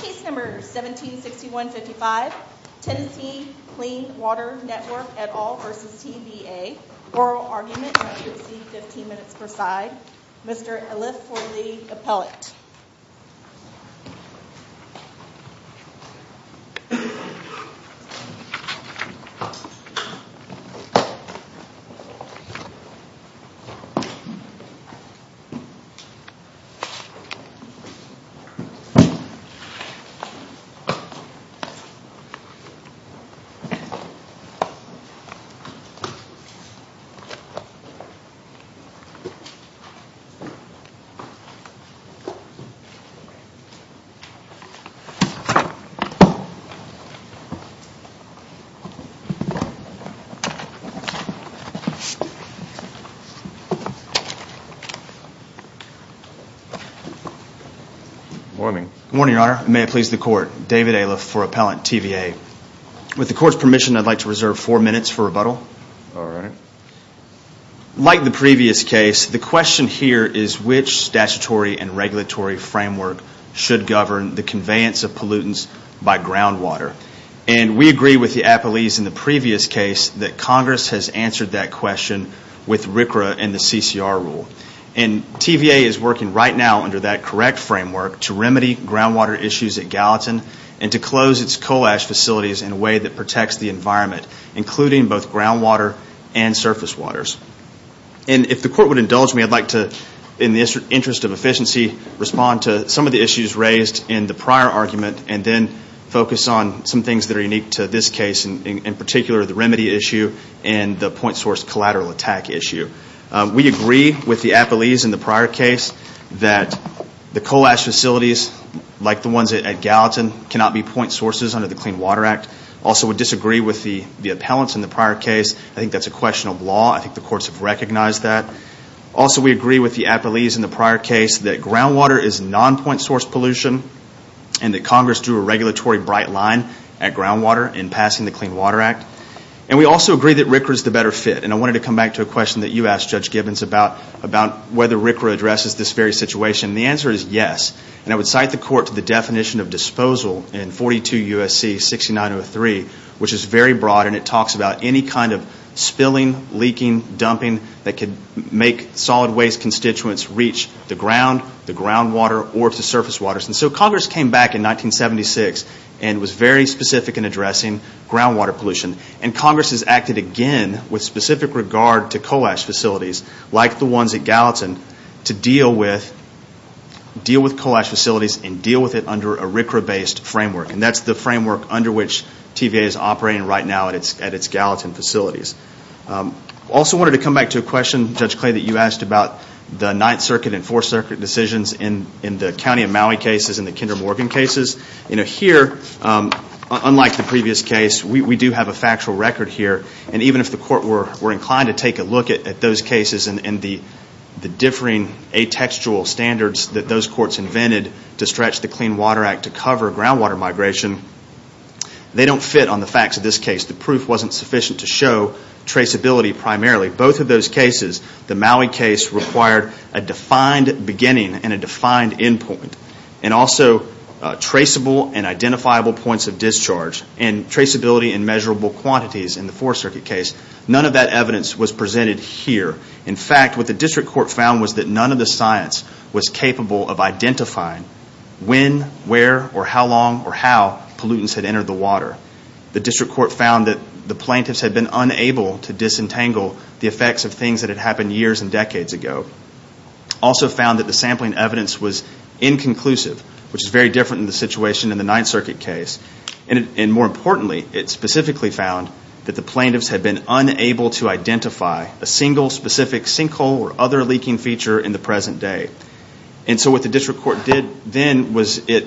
Case number 1761-55, Tennessee Clean Water Network et al. v. TVA Oral argument, not to exceed 15 minutes per side Mr. Alif Forlee, Appellate Mr. Alif Forlee, Appellate Good morning, Your Honor. May it please the Court, David Alif for Appellant TVA. With the Court's permission, I'd like to reserve four minutes for rebuttal. All right. Like the previous case, the question here is which statutory and regulatory framework should govern the conveyance of pollutants by groundwater. And we agree with the appellees in the previous case that Congress has answered that question with RCRA and the CCR rule. And TVA is working right now under that correct framework to remedy groundwater issues at Gallatin and to close its coal ash facilities in a way that protects the environment, including both groundwater and surface waters. And if the Court would indulge me, I'd like to, in the interest of efficiency, respond to some of the issues raised in the prior argument and then focus on some things that are unique to this case, in particular the remedy issue and the point source collateral attack issue. We agree with the appellees in the prior case that the coal ash facilities, like the ones at Gallatin, cannot be point sources under the Clean Water Act. Also, we disagree with the appellants in the prior case. I think that's a question of law. I think the Courts have recognized that. Also, we agree with the appellees in the prior case that groundwater is non-point source pollution and that Congress drew a regulatory bright line at groundwater in passing the Clean Water Act. And we also agree that RCRA is the better fit. And I wanted to come back to a question that you asked, Judge Gibbons, about whether RCRA addresses this very situation. And the answer is yes. And I would cite the Court to the definition of disposal in 42 U.S.C. 6903, which is very broad and it talks about any kind of spilling, leaking, dumping that could make solid waste constituents reach the ground, the groundwater, or the surface waters. And so Congress came back in 1976 and was very specific in addressing groundwater pollution. And Congress has acted again with specific regard to coal ash facilities, like the ones at Gallatin, to deal with coal ash facilities and deal with it under a RCRA-based framework. And that's the framework under which TVA is operating right now at its Gallatin facilities. I also wanted to come back to a question, Judge Clay, that you asked about the Ninth Circuit and Fourth Circuit decisions in the County of Maui cases and the Kinder Morgan cases. Here, unlike the previous case, we do have a factual record here. And even if the Court were inclined to take a look at those cases and the differing atextual standards that those courts invented to stretch the Clean Water Act to cover groundwater migration, they don't fit on the facts of this case. The proof wasn't sufficient to show traceability primarily. Both of those cases, the Maui case, required a defined beginning and a defined end point. And also traceable and identifiable points of discharge and traceability in measurable quantities in the Fourth Circuit case. None of that evidence was presented here. In fact, what the district court found was that none of the science was capable of identifying when, where, or how long or how pollutants had entered the water. The district court found that the plaintiffs had been unable to disentangle the effects of things that had happened years and decades ago. Also found that the sampling evidence was inconclusive, which is very different in the situation in the Ninth Circuit case. And more importantly, it specifically found that the plaintiffs had been unable to identify a single specific sinkhole or other leaking feature in the present day. And so what the district court did then was it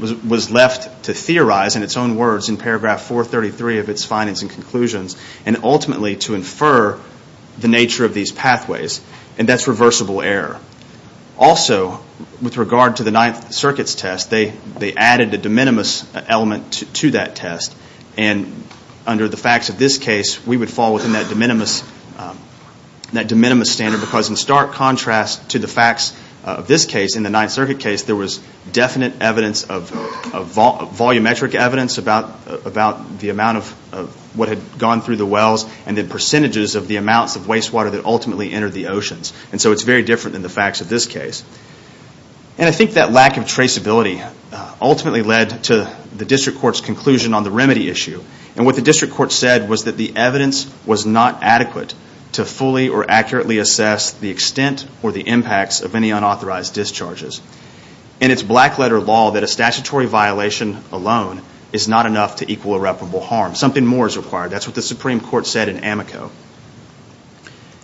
was left to theorize in its own words in paragraph 433 of its findings and conclusions and ultimately to infer the nature of these pathways. And that's reversible error. Also, with regard to the Ninth Circuit's test, they added a de minimis element to that test. And under the facts of this case, we would fall within that de minimis standard because in stark contrast to the facts of this case, in the Ninth Circuit case, there was definite volumetric evidence about the amount of what had gone through the wells and the percentages of the amounts of wastewater that ultimately entered the oceans. And so it's very different than the facts of this case. And I think that lack of traceability ultimately led to the district court's conclusion on the remedy issue. And what the district court said was that the evidence was not adequate to fully or accurately assess the extent or the impacts of any unauthorized discharges. And it's black letter law that a statutory violation alone is not enough to equal irreparable harm. Something more is required. That's what the Supreme Court said in Amico.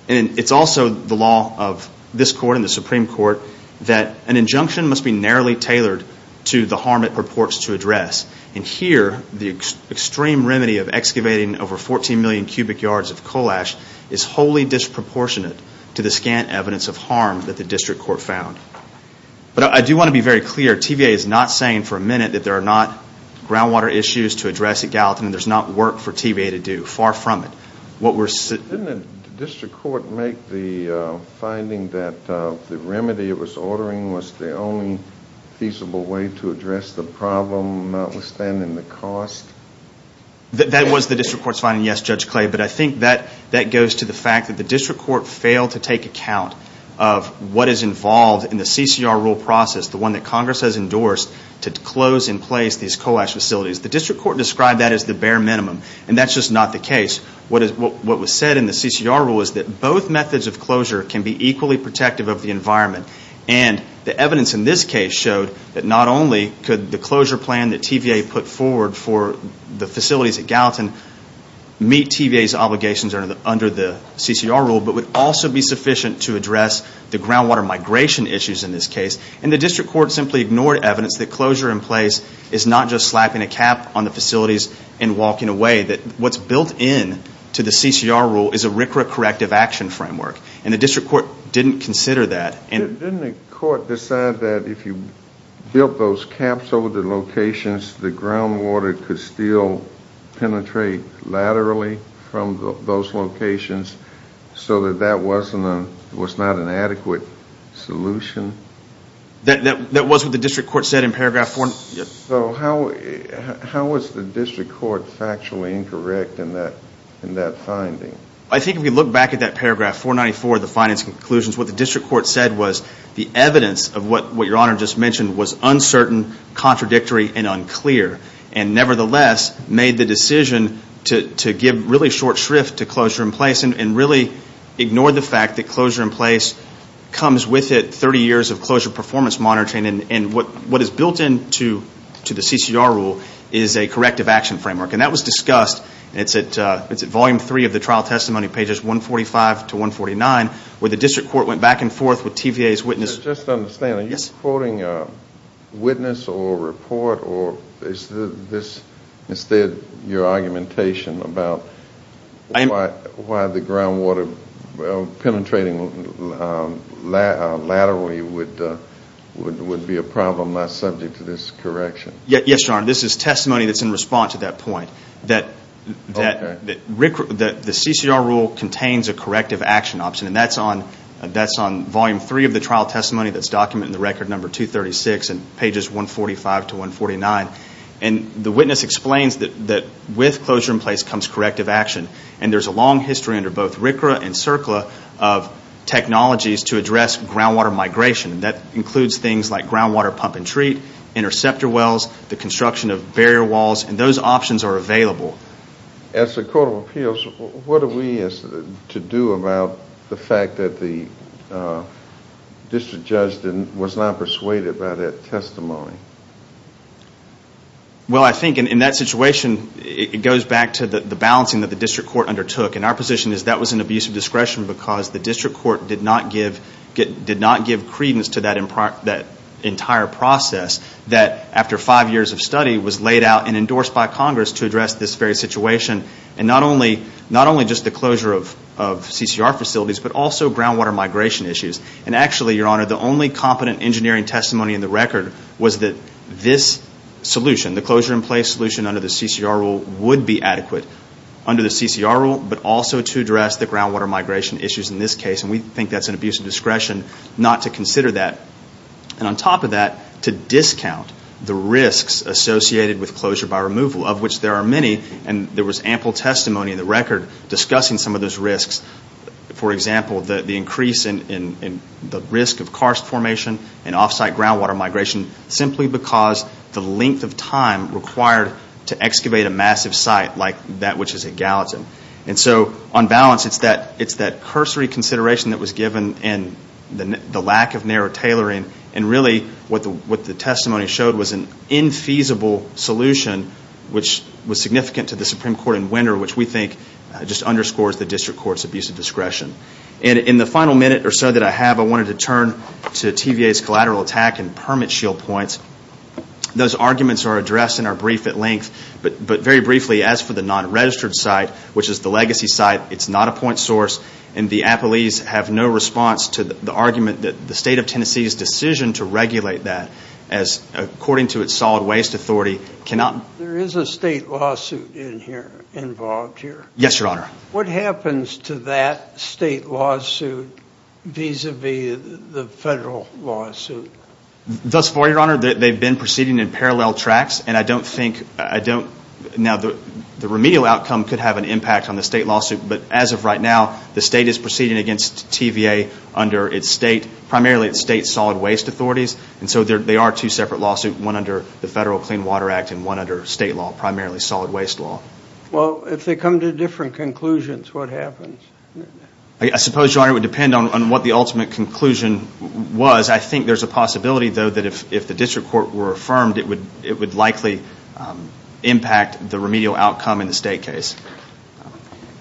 And it's also the law of this court and the Supreme Court that an injunction must be narrowly tailored to the harm it purports to address. And here, the extreme remedy of excavating over 14 million cubic yards of coal ash is wholly disproportionate to the scant evidence of harm that the district court found. But I do want to be very clear. TVA is not saying for a minute that there are not groundwater issues to address at Gallatin and there's not work for TVA to do. Far from it. Didn't the district court make the finding that the remedy it was ordering was the only feasible way to address the problem, notwithstanding the cost? That was the district court's finding, yes, Judge Clay. But I think that goes to the fact that the district court failed to take account of what is involved in the CCR rule process, the one that Congress has endorsed to close in place these coal ash facilities. The district court described that as the bare minimum. And that's just not the case. What was said in the CCR rule is that both methods of closure can be equally protective of the environment. And the evidence in this case showed that not only could the closure plan that TVA put forward for the facilities at Gallatin meet TVA's obligations under the CCR rule, but would also be sufficient to address the groundwater migration issues in this case. And the district court simply ignored evidence that closure in place is not just slapping a cap on the facilities and walking away. What's built into the CCR rule is a RCRA corrective action framework. And the district court didn't consider that. Didn't the court decide that if you built those caps over the locations, the groundwater could still penetrate laterally from those locations so that that was not an adequate solution? That was what the district court said in paragraph 494. So how was the district court factually incorrect in that finding? I think if you look back at that paragraph 494, the findings and conclusions, what the district court said was the evidence of what Your Honor just mentioned was uncertain, contradictory, and unclear, and nevertheless made the decision to give really short shrift to closure in place and really ignored the fact that closure in place comes with it 30 years of closure performance monitoring. And what is built into the CCR rule is a corrective action framework. And that was discussed. It's at volume three of the trial testimony, pages 145 to 149, where the district court went back and forth with TVA's witness. Just to understand, are you quoting a witness or a report, or is this instead your argumentation about why the groundwater penetrating laterally would be a problem not subject to this correction? Yes, Your Honor. This is testimony that's in response to that point, that the CCR rule contains a corrective action option, and that's on volume three of the trial testimony that's documented in the record number 236 and pages 145 to 149. And the witness explains that with closure in place comes corrective action, and there's a long history under both RCRA and CERCLA of technologies to address groundwater migration. That includes things like groundwater pump and treat, interceptor wells, the construction of barrier walls, and those options are available. As the Court of Appeals, what are we to do about the fact that the district judge was not persuaded by that testimony? Well, I think in that situation, it goes back to the balancing that the district court undertook. And our position is that was an abuse of discretion because the district court did not give credence to that entire process that after five years of study was laid out and endorsed by Congress to address this very situation, and not only just the closure of CCR facilities, but also groundwater migration issues. And actually, Your Honor, the only competent engineering testimony in the record was that this solution, the closure in place solution under the CCR rule, would be adequate under the CCR rule, but also to address the groundwater migration issues in this case, and we think that's an abuse of discretion not to consider that. And on top of that, to discount the risks associated with closure by removal, of which there are many, and there was ample testimony in the record discussing some of those risks. For example, the increase in the risk of karst formation and offsite groundwater migration simply because the length of time required to excavate a massive site like that which is at Gallatin. And so on balance, it's that cursory consideration that was given and the lack of narrow tailoring, and really what the testimony showed was an infeasible solution, which was significant to the Supreme Court in winter, which we think just underscores the district court's abuse of discretion. And in the final minute or so that I have, I wanted to turn to TVA's collateral attack and permit shield points. Those arguments are addressed in our brief at length, but very briefly, as for the non-registered site, which is the legacy site, it's not a point source, and the appellees have no response to the argument that the state of Tennessee's decision to regulate that as according to its solid waste authority There is a state lawsuit involved here. Yes, Your Honor. What happens to that state lawsuit vis-à-vis the federal lawsuit? Thus far, Your Honor, they've been proceeding in parallel tracks, and I don't think, now the remedial outcome could have an impact on the state lawsuit, but as of right now, the state is proceeding against TVA under its state, primarily its state solid waste authorities, and so they are two separate lawsuits, one under the Federal Clean Water Act and one under state law, primarily solid waste law. Well, if they come to different conclusions, what happens? I suppose, Your Honor, it would depend on what the ultimate conclusion was. I think there's a possibility, though, that if the district court were affirmed, it would likely impact the remedial outcome in the state case.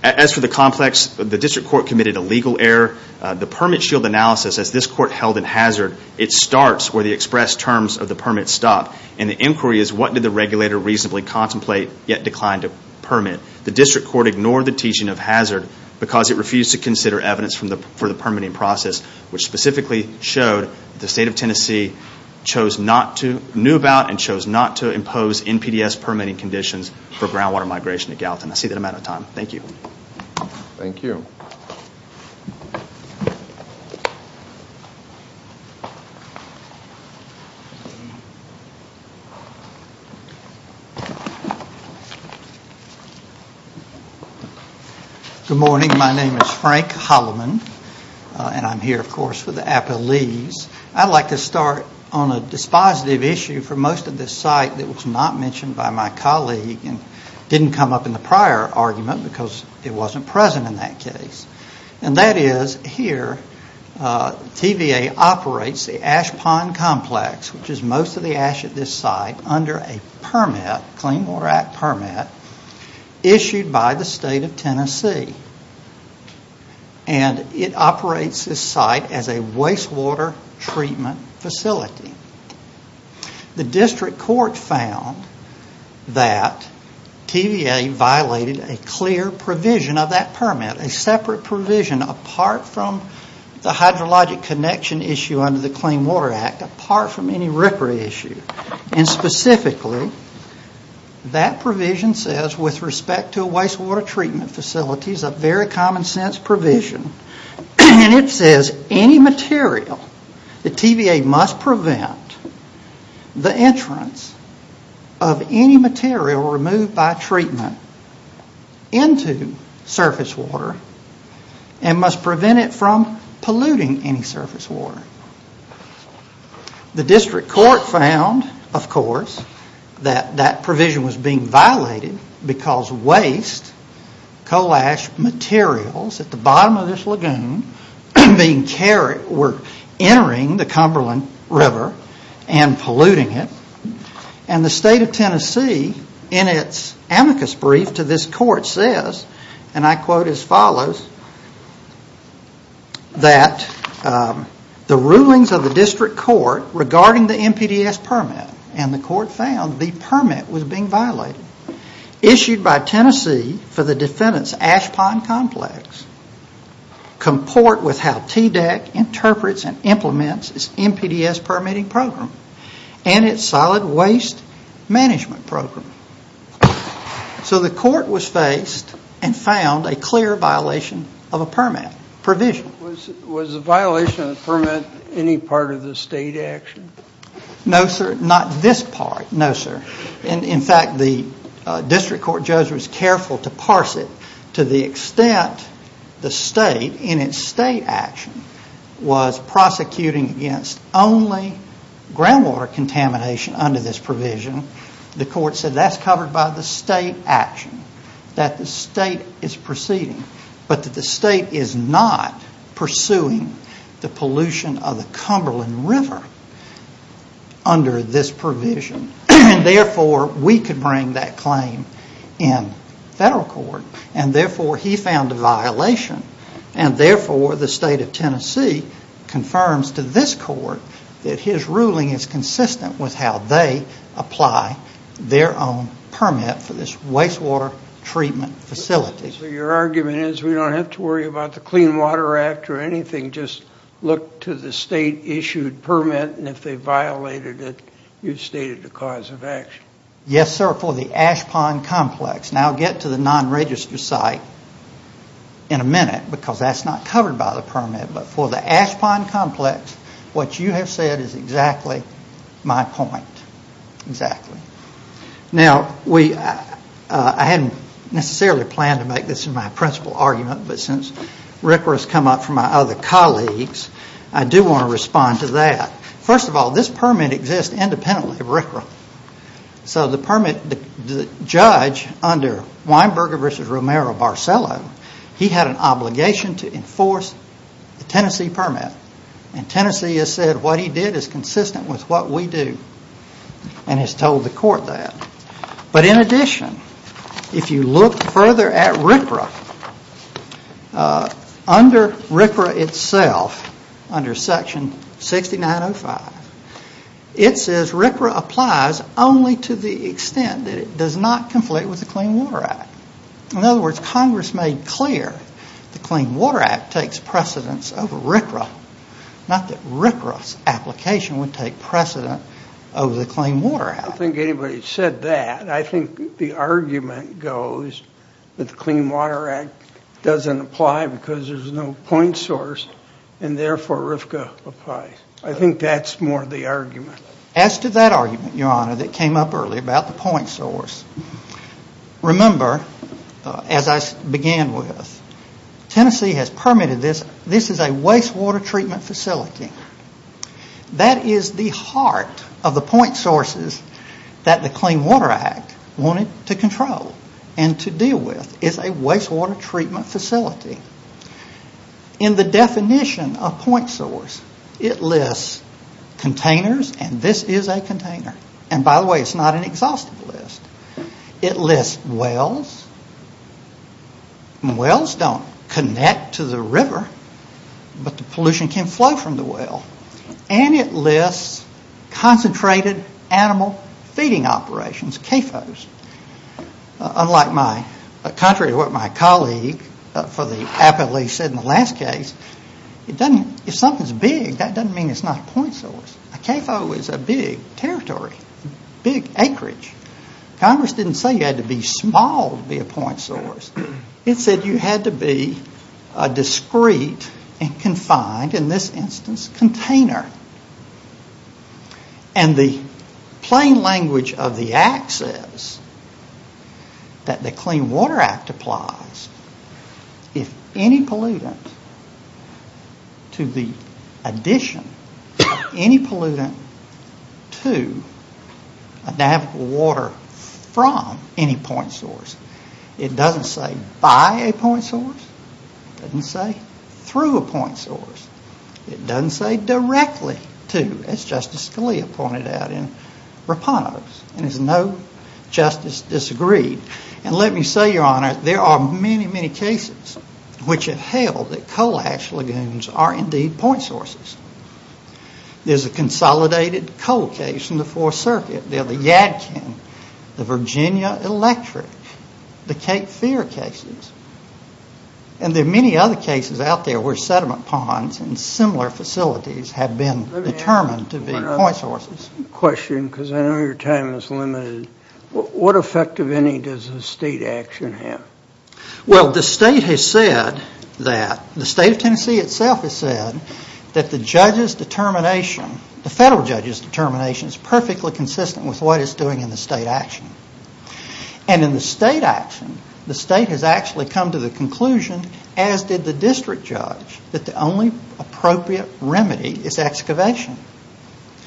As for the complex, the district court committed a legal error. The permit shield analysis, as this court held in hazard, it starts where the express terms of the permit stop, and the inquiry is what did the regulator reasonably contemplate, yet declined to permit. The district court ignored the teaching of hazard because it refused to consider evidence for the permitting process, which specifically showed the state of Tennessee knew about and chose not to impose NPDES permitting conditions for groundwater migration at Gallatin. I see that I'm out of time. Thank you. Thank you. Good morning. My name is Frank Holloman, and I'm here, of course, for the appellees. I'd like to start on a dispositive issue for most of this site that was not mentioned by my colleague and didn't come up in the prior argument because it wasn't present in that case, and that is here TVA operates the ash pond complex, which is most of the ash at this site, under a permit, Clean Water Act permit, issued by the state of Tennessee, and it operates this site as a wastewater treatment facility. The district court found that TVA violated a clear provision of that permit, a separate provision apart from the hydrologic connection issue under the Clean Water Act, apart from any rippery issue, and specifically, that provision says, with respect to a wastewater treatment facility, it's a very common sense provision, and it says any material that TVA must prevent the entrance of any material removed by treatment into surface water and must prevent it from polluting any surface water. The district court found, of course, that that provision was being violated because waste coal ash materials at the bottom of this lagoon were entering the Cumberland River and polluting it, and the state of Tennessee, in its amicus brief to this court, says, and I quote as follows, that the rulings of the district court regarding the NPDES permit, and the court found the permit was being violated, issued by Tennessee for the defendant's ash pond complex, comport with how TDEC interprets and implements its NPDES permitting program and its solid waste management program. So the court was faced and found a clear violation of a permit provision. Was the violation of the permit any part of the state action? No, sir. Not this part. No, sir. In fact, the district court judge was careful to parse it to the extent the state, in its state action, was prosecuting against only groundwater contamination under this provision. The court said that's covered by the state action, that the state is proceeding, but that the state is not pursuing the pollution of the Cumberland River under this provision, and therefore we could bring that claim in federal court, and therefore he found a violation, and therefore the state of Tennessee confirms to this court that his ruling is consistent with how they apply their own permit for this wastewater treatment facility. So your argument is we don't have to worry about the Clean Water Act or anything, just look to the state-issued permit, and if they violated it, you've stated the cause of action. Yes, sir, for the ash pond complex. And I'll get to the non-register site in a minute, because that's not covered by the permit, but for the ash pond complex, what you have said is exactly my point. Exactly. Now, I hadn't necessarily planned to make this my principal argument, but since RCRA has come up from my other colleagues, I do want to respond to that. First of all, this permit exists independently of RCRA. So the judge under Weinberger v. Romero-Barcello, he had an obligation to enforce the Tennessee permit, and Tennessee has said what he did is consistent with what we do, and has told the court that. But in addition, if you look further at RCRA, under RCRA itself, under section 6905, it says RCRA applies only to the extent that it does not conflict with the Clean Water Act. In other words, Congress made clear the Clean Water Act takes precedence over RCRA, not that RCRA's application would take precedent over the Clean Water Act. I don't think anybody said that. I think the argument goes that the Clean Water Act doesn't apply because there's no point source, and therefore RFCA applies. I think that's more the argument. As to that argument, Your Honor, that came up earlier about the point source, remember, as I began with, Tennessee has permitted this. This is a wastewater treatment facility. That is the heart of the point sources that the Clean Water Act wanted to control and to deal with. It's a wastewater treatment facility. In the definition of point source, it lists containers, and this is a container. By the way, it's not an exhaustive list. It lists wells. Wells don't connect to the river, but the pollution can flow from the well. It lists concentrated animal feeding operations, CAFOs. Unlike my, contrary to what my colleague for the appellee said in the last case, if something's big, that doesn't mean it's not a point source. A CAFO is a big territory, big acreage. Congress didn't say you had to be small to be a point source. It said you had to be a discrete and confined, in this instance, container. And the plain language of the Act says that the Clean Water Act applies if any pollutant, to the addition of any pollutant to adapt water from any point source. It doesn't say by a point source. It doesn't say through a point source. It doesn't say directly to, as Justice Scalia pointed out in Rapanos. And there's no justice disagreed. And let me say, Your Honor, there are many, many cases which have held that coal ash lagoons are indeed point sources. There's a consolidated coal case in the Fourth Circuit. There are the Yadkin, the Virginia Electric, the Cape Fear cases. And there are many other cases out there where sediment ponds and similar facilities have been determined to be point sources. Let me ask one other question because I know your time is limited. What effect of any does the state action have? Well, the state has said that, the state of Tennessee itself has said, that the judge's determination, the federal judge's determination, is perfectly consistent with what it's doing in the state action. And in the state action, the state has actually come to the conclusion, as did the district judge, that the only appropriate remedy is excavation.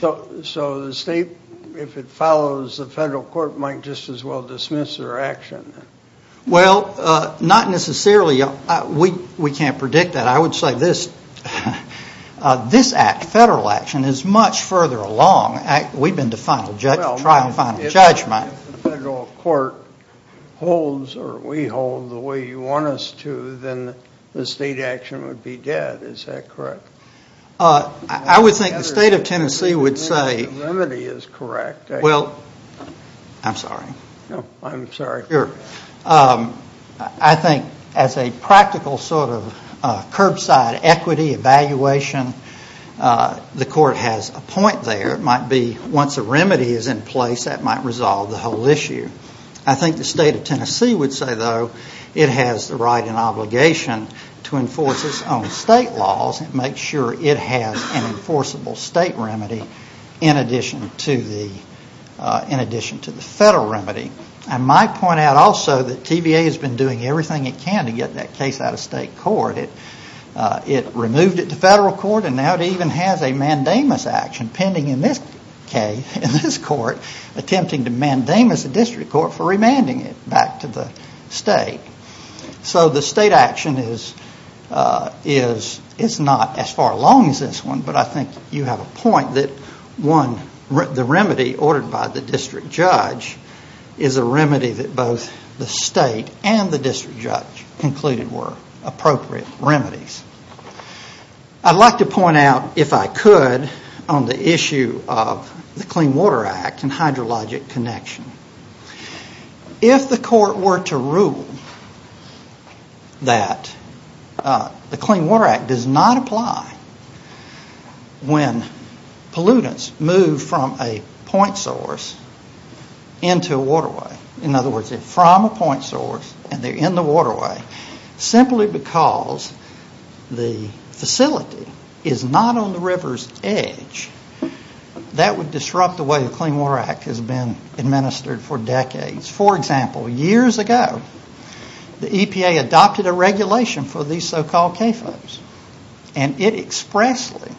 So the state, if it follows the federal court, might just as well dismiss their action? Well, not necessarily. We can't predict that. I would say this act, federal action, is much further along. We've been to trial and final judgment. Well, if the federal court holds or we hold the way you want us to, then the state action would be dead. Is that correct? I would think the state of Tennessee would say. The remedy is correct. Well, I'm sorry. No, I'm sorry. I think as a practical sort of curbside equity evaluation, the court has a point there. It might be once a remedy is in place, that might resolve the whole issue. I think the state of Tennessee would say, though, it has the right and obligation to enforce its own state laws and make sure it has an enforceable state remedy in addition to the federal remedy. I might point out also that TVA has been doing everything it can to get that case out of state court. It removed it to federal court and now it even has a mandamus action pending in this case, in this court, attempting to mandamus the district court for remanding it back to the state. So the state action is not as far along as this one, but I think you have a point that, one, the remedy ordered by the district judge is a remedy that both the state and the district judge concluded were appropriate remedies. I'd like to point out, if I could, on the issue of the Clean Water Act and hydrologic connection. If the court were to rule that the Clean Water Act does not apply when pollutants move from a point source into a waterway, in other words, they're from a point source and they're in the waterway, simply because the facility is not on the river's edge, that would disrupt the way the Clean Water Act has been administered for decades. For example, years ago, the EPA adopted a regulation for these so-called CAFOs and it expressly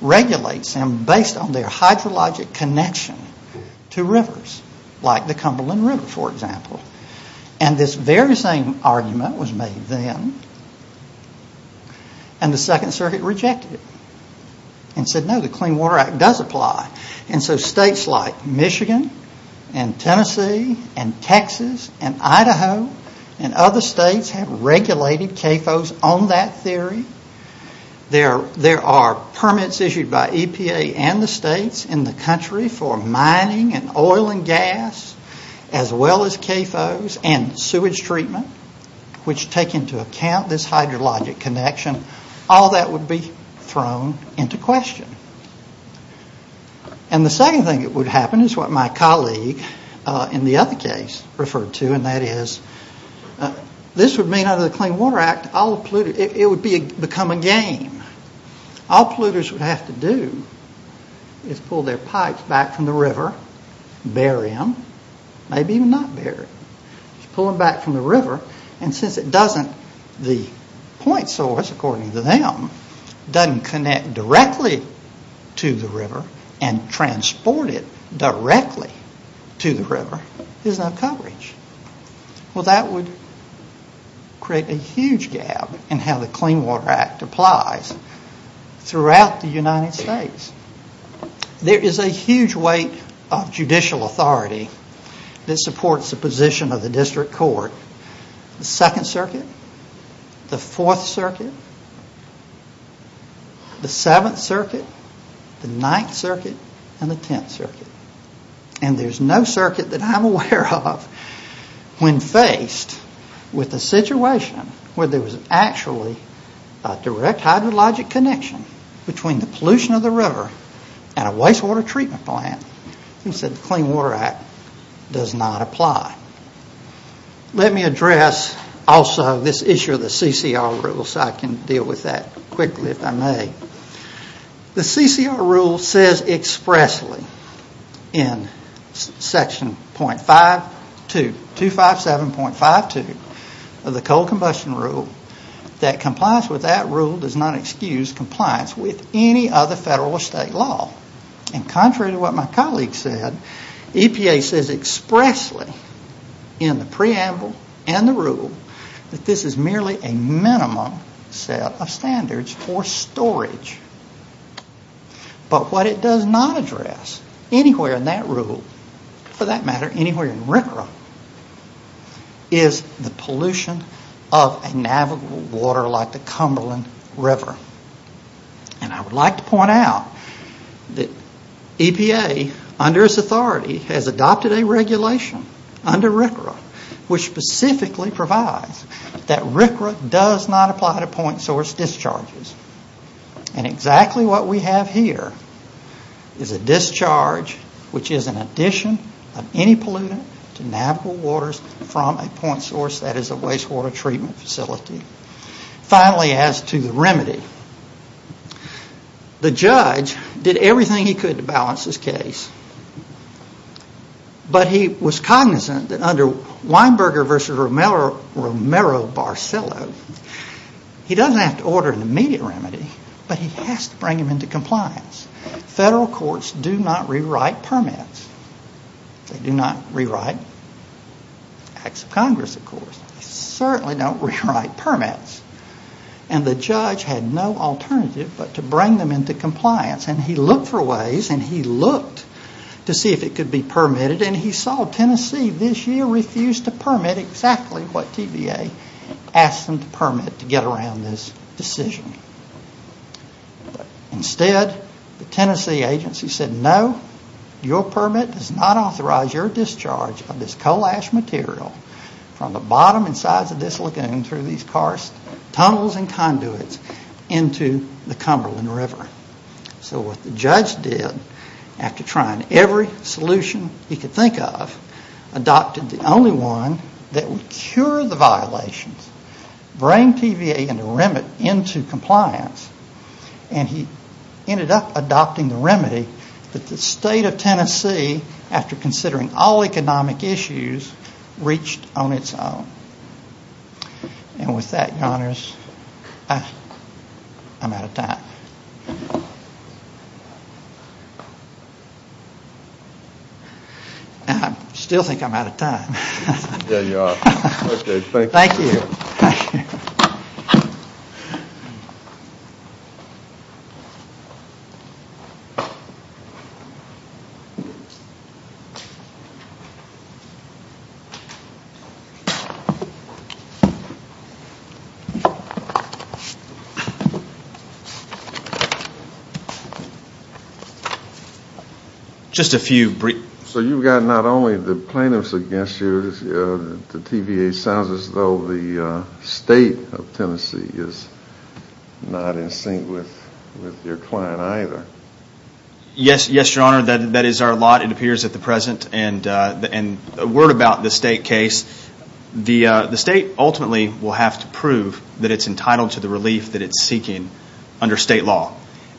regulates them based on their hydrologic connection to rivers, like the Cumberland River, for example. And this very same argument was made then and the Second Circuit rejected it and said, no, the Clean Water Act does apply. And so states like Michigan and Tennessee and Texas and Idaho and other states have regulated CAFOs on that theory. There are permits issued by EPA and the states in the country for mining and oil and gas, as well as CAFOs and sewage treatment, which take into account this hydrologic connection. All that would be thrown into question. And the second thing that would happen is what my colleague in the other case referred to, and that is this would mean under the Clean Water Act, it would become a game. All polluters would have to do is pull their pipes back from the river, bury them, maybe even not bury them, just pull them back from the river. And since the point source, according to them, doesn't connect directly to the river and transport it directly to the river, there's no coverage. Well, that would create a huge gap in how the Clean Water Act applies throughout the United States. There is a huge weight of judicial authority that supports the position of the district court. The 2nd Circuit, the 4th Circuit, the 7th Circuit, the 9th Circuit, and the 10th Circuit. And there's no circuit that I'm aware of when faced with a situation where there was actually a direct hydrologic connection between the pollution of the river and a wastewater treatment plant, and said the Clean Water Act does not apply. Let me address also this issue of the CCR rule so I can deal with that quickly if I may. The CCR rule says expressly in Section 257.52 of the Coal Combustion Rule that compliance with that rule does not excuse compliance with any other federal or state law. And contrary to what my colleague said, EPA says expressly in the preamble and the rule that this is merely a minimum set of standards for storage. But what it does not address anywhere in that rule, for that matter, anywhere in RCRA, is the pollution of a navigable water like the Cumberland River. And I would like to point out that EPA, under its authority, has adopted a regulation under RCRA which specifically provides that RCRA does not apply to point source discharges. And exactly what we have here is a discharge which is an addition of any pollutant to navigable waters from a point source that is a wastewater treatment facility. Finally, as to the remedy, the judge did everything he could to balance this case. But he was cognizant that under Weinberger v. Romero-Barcello, he doesn't have to order an immediate remedy, but he has to bring them into compliance. Federal courts do not rewrite permits. They do not rewrite Acts of Congress, of course. They certainly don't rewrite permits. And the judge had no alternative but to bring them into compliance. And he looked for ways, and he looked to see if it could be permitted, and he saw Tennessee this year refused to permit exactly what TVA asked them to permit to get around this decision. Instead, the Tennessee agency said, no, your permit does not authorize your discharge of this coal ash material from the bottom and sides of this lagoon through these karst tunnels and conduits into the Cumberland River. So what the judge did, after trying every solution he could think of, adopted the only one that would cure the violations, bring TVA and the remedy into compliance, and he ended up adopting the remedy that the state of Tennessee, after considering all economic issues, reached on its own. And with that, Your Honors, I'm out of time. I still think I'm out of time. Yeah, you are. Thank you. Just a few brief questions. So you've got not only the plaintiffs against you, the TVA sounds as though the state of Tennessee is not in sync with your client either. Yes, Your Honor, that is our lot. It appears at the present. And a word about the state case. The state ultimately will have to prove that it's entitled to the relief that it's seeking under state law.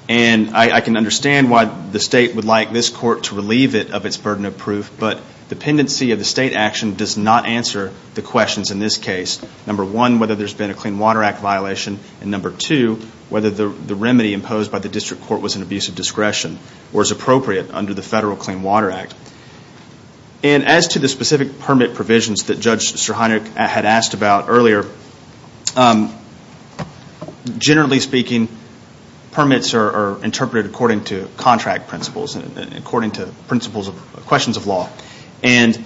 And I can understand why the state would like this court to relieve it of its burden of proof, but dependency of the state action does not answer the questions in this case. Number one, whether there's been a Clean Water Act violation, and number two, whether the remedy imposed by the district court was an abuse of discretion or is appropriate under the federal Clean Water Act. And as to the specific permit provisions that Judge Strachanek had asked about earlier, generally speaking, permits are interpreted according to contract principles and according to principles of questions of law. And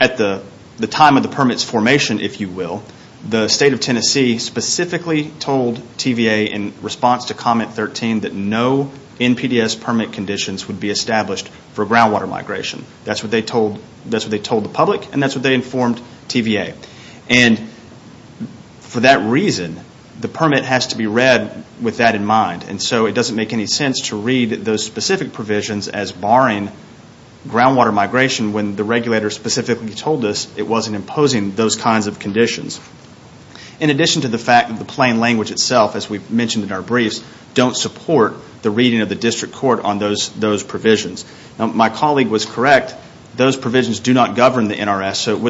at the time of the permit's formation, if you will, the state of Tennessee specifically told TVA in response to comment 13 that no NPDES permit conditions would be established for groundwater migration. That's what they told the public, and that's what they informed TVA. And for that reason, the permit has to be read with that in mind. And so it doesn't make any sense to read those specific provisions as barring groundwater migration when the regulator specifically told us it wasn't imposing those kinds of conditions. In addition to the fact that the plain language itself, as we've mentioned in our briefs, don't support the reading of the district court on those provisions. My colleague was correct. Those provisions do not govern the NRS, so it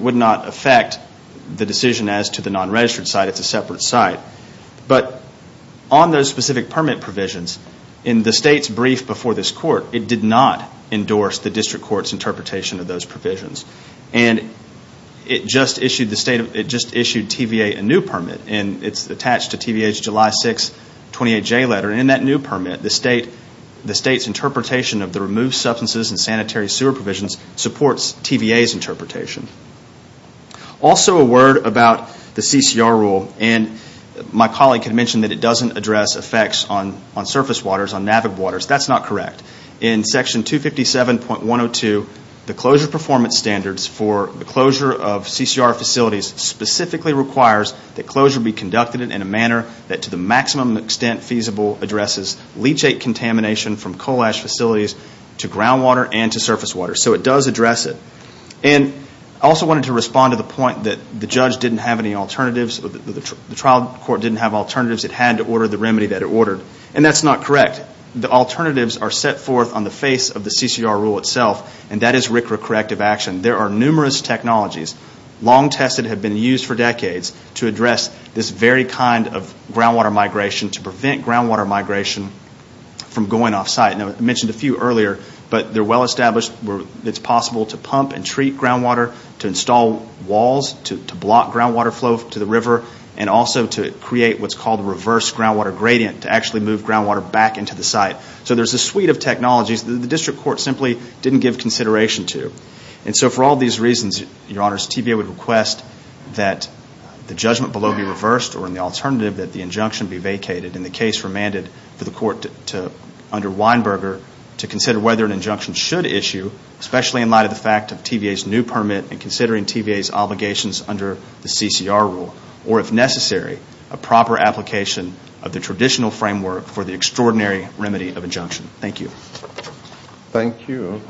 would not affect the decision as to the non-registered site. It's a separate site. But on those specific permit provisions, in the state's brief before this court, it did not endorse the district court's interpretation of those provisions. And it just issued TVA a new permit. And it's attached to TVA's July 6th 28J letter. And in that new permit, the state's interpretation of the removed substances and sanitary sewer provisions supports TVA's interpretation. Also, a word about the CCR rule. And my colleague had mentioned that it doesn't address effects on surface waters, on NAVIG waters. That's not correct. In Section 257.102, the closure performance standards for the closure of CCR facilities specifically requires that closure be conducted in a manner that to the maximum extent feasible addresses leachate contamination from coal ash facilities to groundwater and to surface water. So it does address it. And I also wanted to respond to the point that the judge didn't have any alternatives. The trial court didn't have alternatives. It had to order the remedy that it ordered. And that's not correct. In fact, the alternatives are set forth on the face of the CCR rule itself. And that is RCRA corrective action. There are numerous technologies, long tested, have been used for decades to address this very kind of groundwater migration to prevent groundwater migration from going off site. And I mentioned a few earlier, but they're well established. It's possible to pump and treat groundwater, to install walls, to block groundwater flow to the river, and also to create what's called reverse groundwater gradient, to actually move groundwater back into the site. So there's a suite of technologies that the district court simply didn't give consideration to. And so for all these reasons, your honors, TVA would request that the judgment below be reversed or in the alternative that the injunction be vacated and the case remanded for the court under Weinberger to consider whether an injunction should issue, especially in light of the fact of TVA's new permit and considering TVA's obligations under the CCR rule, or if necessary, a proper application of the traditional framework for the extraordinary remedy of injunction. Thank you. Thank you.